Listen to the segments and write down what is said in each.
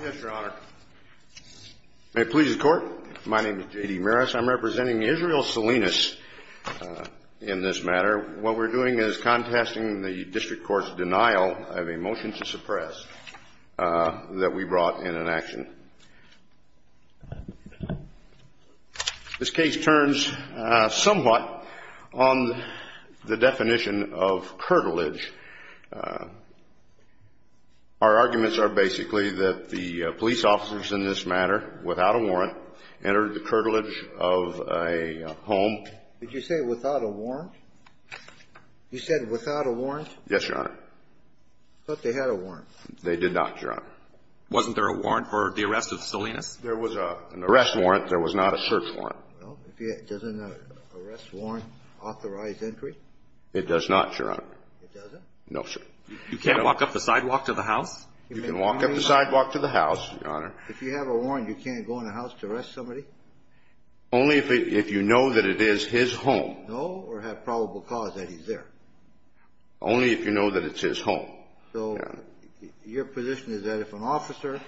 Yes, your honor. May it please the court, my name is J.D. Maris. I'm representing Israel Salinas in this matter. What we're doing is contesting the district court's denial of a motion to suppress that we brought in an action. This case turns somewhat on the definition of curtilage. Our arguments are basically that the police officers in this matter, without a warrant, entered the curtilage of a home. Did you say without a warrant? You said without a warrant? Yes, your honor. I thought they had a warrant. They did not, your honor. Wasn't there a warrant for the arrest of Salinas? There was an arrest warrant. There was not a search warrant. Doesn't an arrest warrant authorize entry? It does not, your honor. It doesn't? No, sir. You can't walk up the sidewalk to the house? You can walk up the sidewalk to the house, your honor. If you have a warrant, you can't go in a house to arrest somebody? Only if you know that it is his home. Know or have probable cause that he's there. Only if you know that it's his home. So your position is that if an officer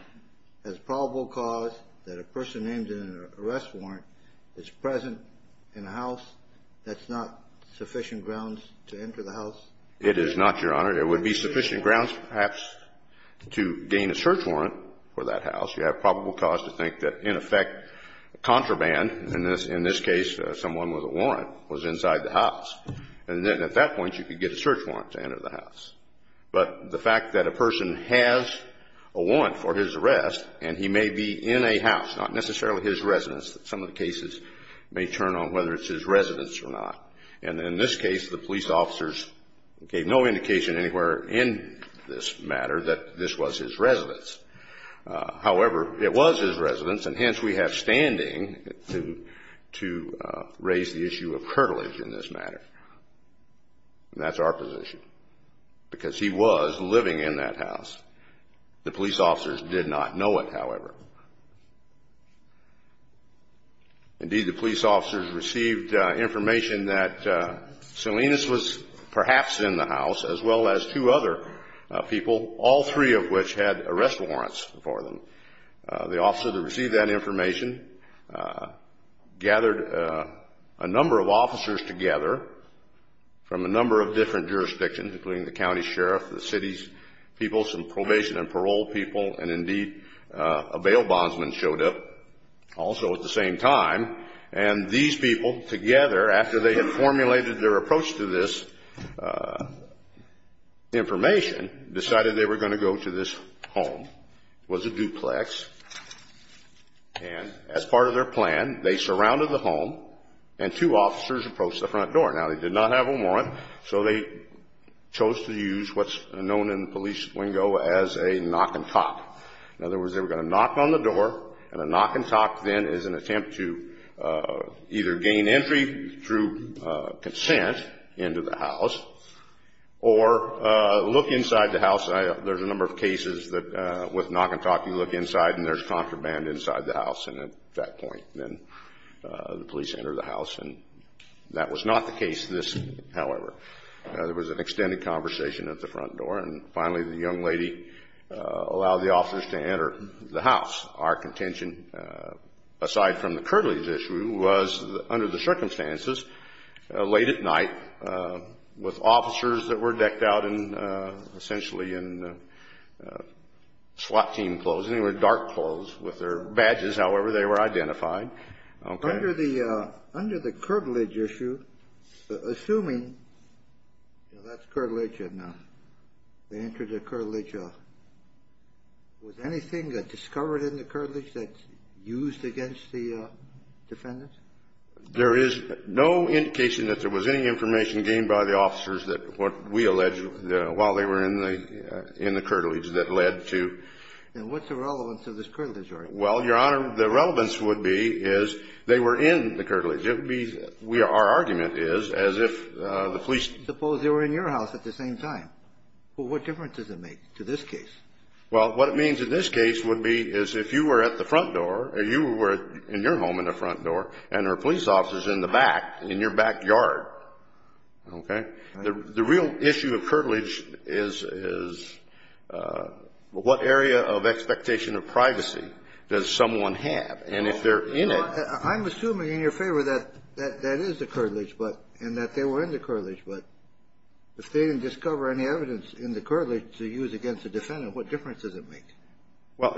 has probable cause that a person named in an arrest warrant is present in a house, that's not sufficient grounds to enter the house? It is not, your honor. It would be sufficient grounds perhaps to gain a search warrant for that house. You have probable cause to think that in effect contraband, in this case someone with a warrant, was inside the house. And then at that point you could get a search warrant to enter the house. But the fact that a person has a warrant for his arrest and he may be in a house, not necessarily his residence, some of the cases may turn on whether it's his residence or not. And in this case, the police officers gave no indication anywhere in this matter that this was his residence. However, it was his residence, and hence we have standing to raise the issue of curtilage in this matter. And that's our position because he was living in that house. The police officers did not know it, however. Indeed, the police officers received information that Salinas was perhaps in the house as well as two other people, all three of which had arrest warrants for them. The officer that received that information gathered a number of officers together from a number of different jurisdictions, including the county sheriff, the city's people, some probation and parole people, and indeed a bail bondsman showed up also at the same time. And these people together, after they had formulated their approach to this information, decided they were going to go to this home. It was a duplex. And as part of their plan, they surrounded the home and two officers approached the front door. Now, they did not have a warrant, so they chose to use what's known in the police lingo as a knock and talk. In other words, they were going to knock on the door, and a knock and talk then is an attempt to either gain entry through consent into the house or look inside the house. There's a number of cases that with knock and talk you look inside and there's contraband inside the house, and at that point then the police enter the house. And that was not the case this, however. There was an extended conversation at the front door, and finally the young lady allowed the officers to enter the house. Our contention, aside from the curtilage issue, was under the circumstances, late at night, with officers that were decked out in essentially in SWAT team clothes, anyway, dark clothes, with their badges, however they were identified. Okay. Under the curtilage issue, assuming that's curtilage and they entered the curtilage, was anything discovered in the curtilage that's used against the defendants? There is no indication that there was any information gained by the officers that what we allege while they were in the curtilage that led to. And what's the relevance of this curtilage argument? Well, Your Honor, the relevance would be is they were in the curtilage. It would be our argument is as if the police. Suppose they were in your house at the same time. Well, what difference does it make to this case? Well, what it means in this case would be is if you were at the front door or you were in your home in the front door and there were police officers in the back, in your backyard. Okay. The real issue of curtilage is what area of expectation of privacy does someone have? And if they're in it. I'm assuming in your favor that that is the curtilage and that they were in the curtilage. But if they didn't discover any evidence in the curtilage to use against the defendant, what difference does it make? Well,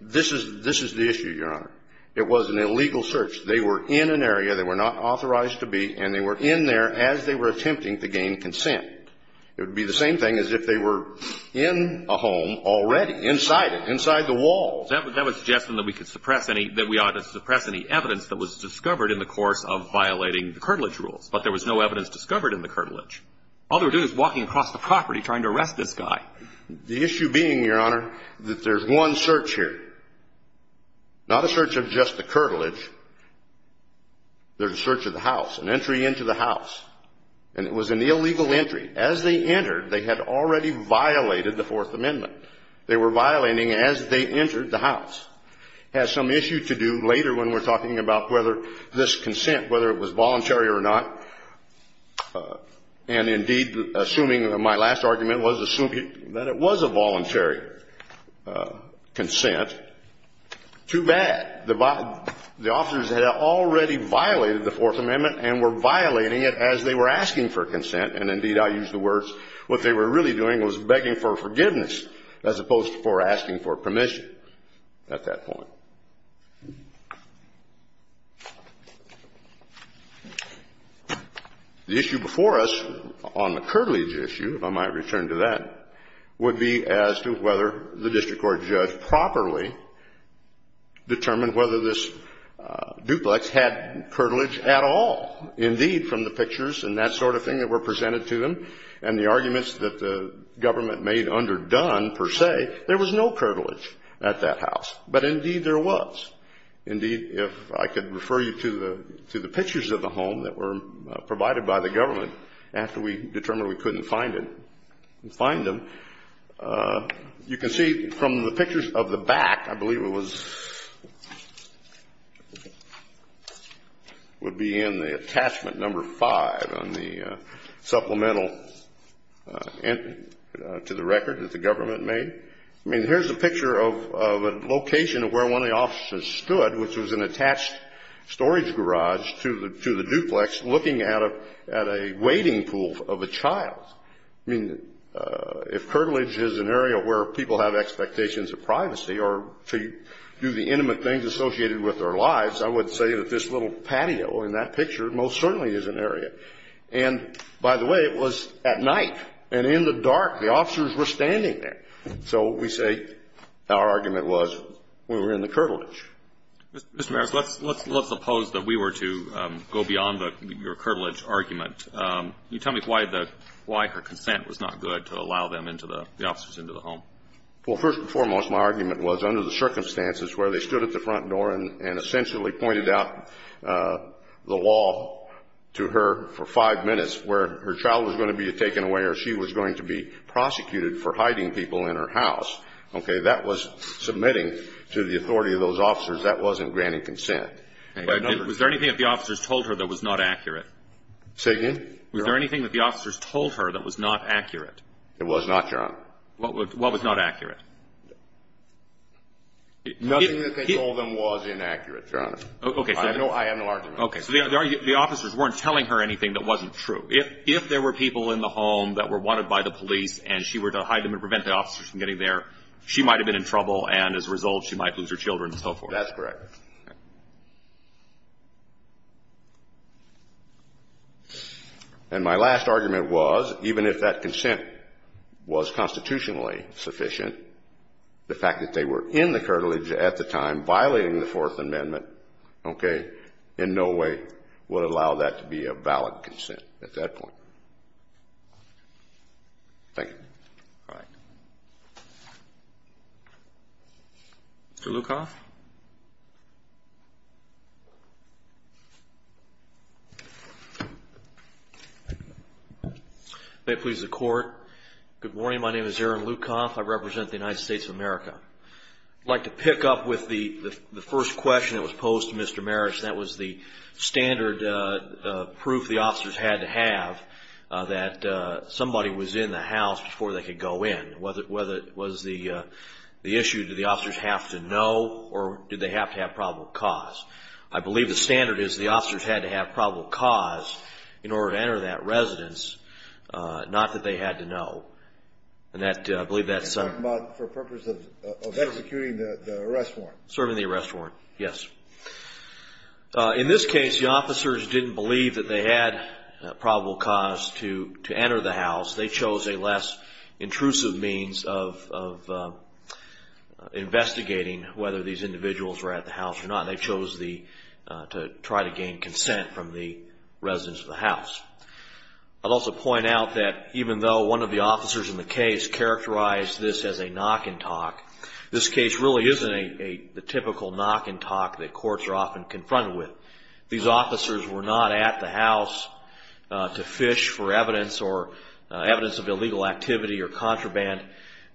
this is the issue, Your Honor. It was an illegal search. They were in an area. They were not authorized to be. And they were in there as they were attempting to gain consent. It would be the same thing as if they were in a home already, inside it, inside the walls. That would suggest that we could suppress any – that we ought to suppress any evidence that was discovered in the course of violating the curtilage But there was no evidence discovered in the curtilage. All they were doing was walking across the property trying to arrest this guy. The issue being, Your Honor, that there's one search here. Not a search of just the curtilage. There's a search of the house, an entry into the house. And it was an illegal entry. As they entered, they had already violated the Fourth Amendment. They were violating as they entered the house. It has some issue to do later when we're talking about whether this consent, whether it was voluntary or not. And, indeed, assuming – my last argument was assuming that it was a voluntary consent. Too bad. The officers had already violated the Fourth Amendment and were violating it as they were asking for consent. And, indeed, I use the words, what they were really doing was begging for forgiveness as opposed to asking for permission at that point. The issue before us on the curtilage issue, if I might return to that, would be as to whether the district court judge properly determined whether this duplex had curtilage at all. Indeed, from the pictures and that sort of thing that were presented to them and the arguments that the government made underdone, per se, there was no curtilage at that house. But, indeed, there was. Indeed, if I could refer you to the pictures of the home that were provided by the government after we determined we couldn't find it, and find them, you can see from the pictures of the back, I believe it was – would be in the attachment number five on the supplemental to the record that the government made. I mean, here's a picture of a location of where one of the officers stood, which was an attached storage garage to the duplex, looking at a waiting pool of a child. I mean, if curtilage is an area where people have expectations of privacy or to do the intimate things associated with their lives, I would say that this little patio in that picture most certainly is an area. And, by the way, it was at night and in the dark. The officers were standing there. So we say our argument was we were in the curtilage. Mr. Maris, let's suppose that we were to go beyond your curtilage argument. Can you tell me why the – why her consent was not good to allow them into the – the officers into the home? Well, first and foremost, my argument was under the circumstances where they stood at the front door and essentially pointed out the law to her for five minutes where her child was going to be taken away or she was going to be prosecuted for hiding people in her house. Okay. That was submitting to the authority of those officers. That wasn't granting consent. Was there anything that the officers told her that was not accurate? Say again? Was there anything that the officers told her that was not accurate? It was not, Your Honor. What was not accurate? Nothing that they told them was inaccurate, Your Honor. Okay. I have no argument. Okay. So the officers weren't telling her anything that wasn't true. If there were people in the home that were wanted by the police and she were to hide them and prevent the officers from getting there, she might have been in trouble and, as a result, she might lose her children and so forth. That's correct. And my last argument was, even if that consent was constitutionally sufficient, the fact that they were in the cartilage at the time, violating the Fourth Amendment, okay, in no way would allow that to be a valid consent at that point. Thank you. All right. Mr. Lukoff? May it please the Court, good morning. My name is Aaron Lukoff. I represent the United States of America. I'd like to pick up with the first question that was posed to Mr. Marich, and that was the standard proof the officers had to have that somebody was in the house before they could go in, whether it was the issue, did the officers have to know, or did they have to have probable cause? I believe the standard is the officers had to have probable cause in order to enter that residence, not that they had to know. And I believe that's... You're talking about for purpose of executing the arrest warrant. Serving the arrest warrant, yes. In this case, the officers didn't believe that they had probable cause to enter the house. They chose a less intrusive means of investigating whether these individuals were at the house or not, and they chose to try to gain consent from the residents of the house. I'd also point out that even though one of the officers in the case characterized this as a knock-and-talk, this case really isn't the typical knock-and-talk that courts are often confronted with. These officers were not at the house to fish for evidence or evidence of illegal activity or contraband.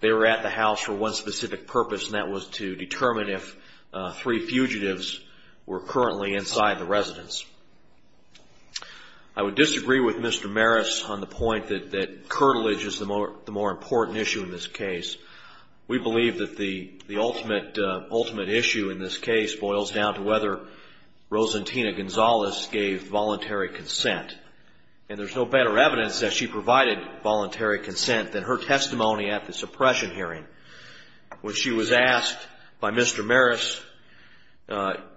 They were at the house for one specific purpose, and that was to determine if three fugitives were currently inside the residence. I would disagree with Mr. Maris on the point that curtilage is the more important issue in this case. We believe that the ultimate issue in this case boils down to whether Rosentina Gonzalez gave voluntary consent, and there's no better evidence that she provided voluntary consent than her testimony at the suppression hearing. When she was asked by Mr. Maris,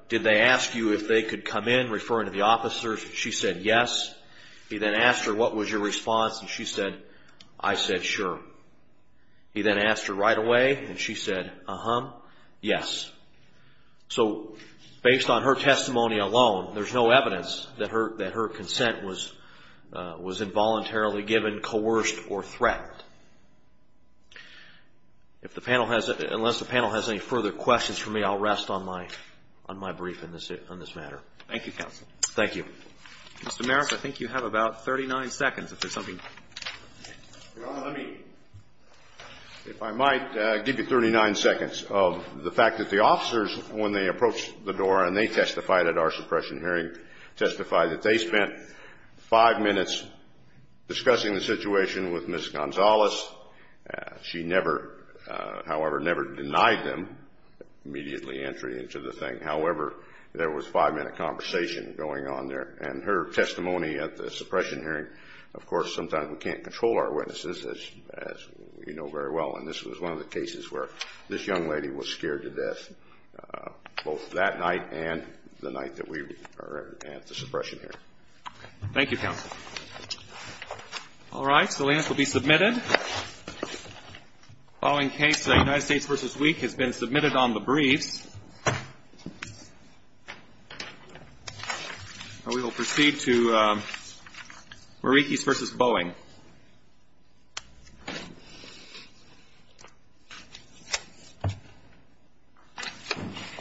did they ask you if they could come in, referring to the officers, she said yes. He then asked her, what was your response, and she said, I said sure. He then asked her right away, and she said, uh-huh, yes. So based on her testimony alone, there's no evidence that her consent was involuntarily given, coerced, or threatened. If the panel has, unless the panel has any further questions for me, I'll rest on my brief on this matter. Thank you, counsel. Thank you. Mr. Maris, I think you have about 39 seconds if there's something. Your Honor, let me, if I might, give you 39 seconds of the fact that the officers, when they approached the door and they testified at our suppression hearing, testified that they spent five minutes discussing the situation with Ms. Gonzalez. She never, however, never denied them immediately entry into the thing. However, there was five-minute conversation going on there. And her testimony at the suppression hearing, of course, sometimes we can't control our witnesses, as you know very well, and this was one of the cases where this young lady was scared to death, both that night and the night that we were at the suppression hearing. Thank you, counsel. All right. Next, the lance will be submitted. The following case, United States v. Week, has been submitted on the briefs. We will proceed to Marikis v. Boeing.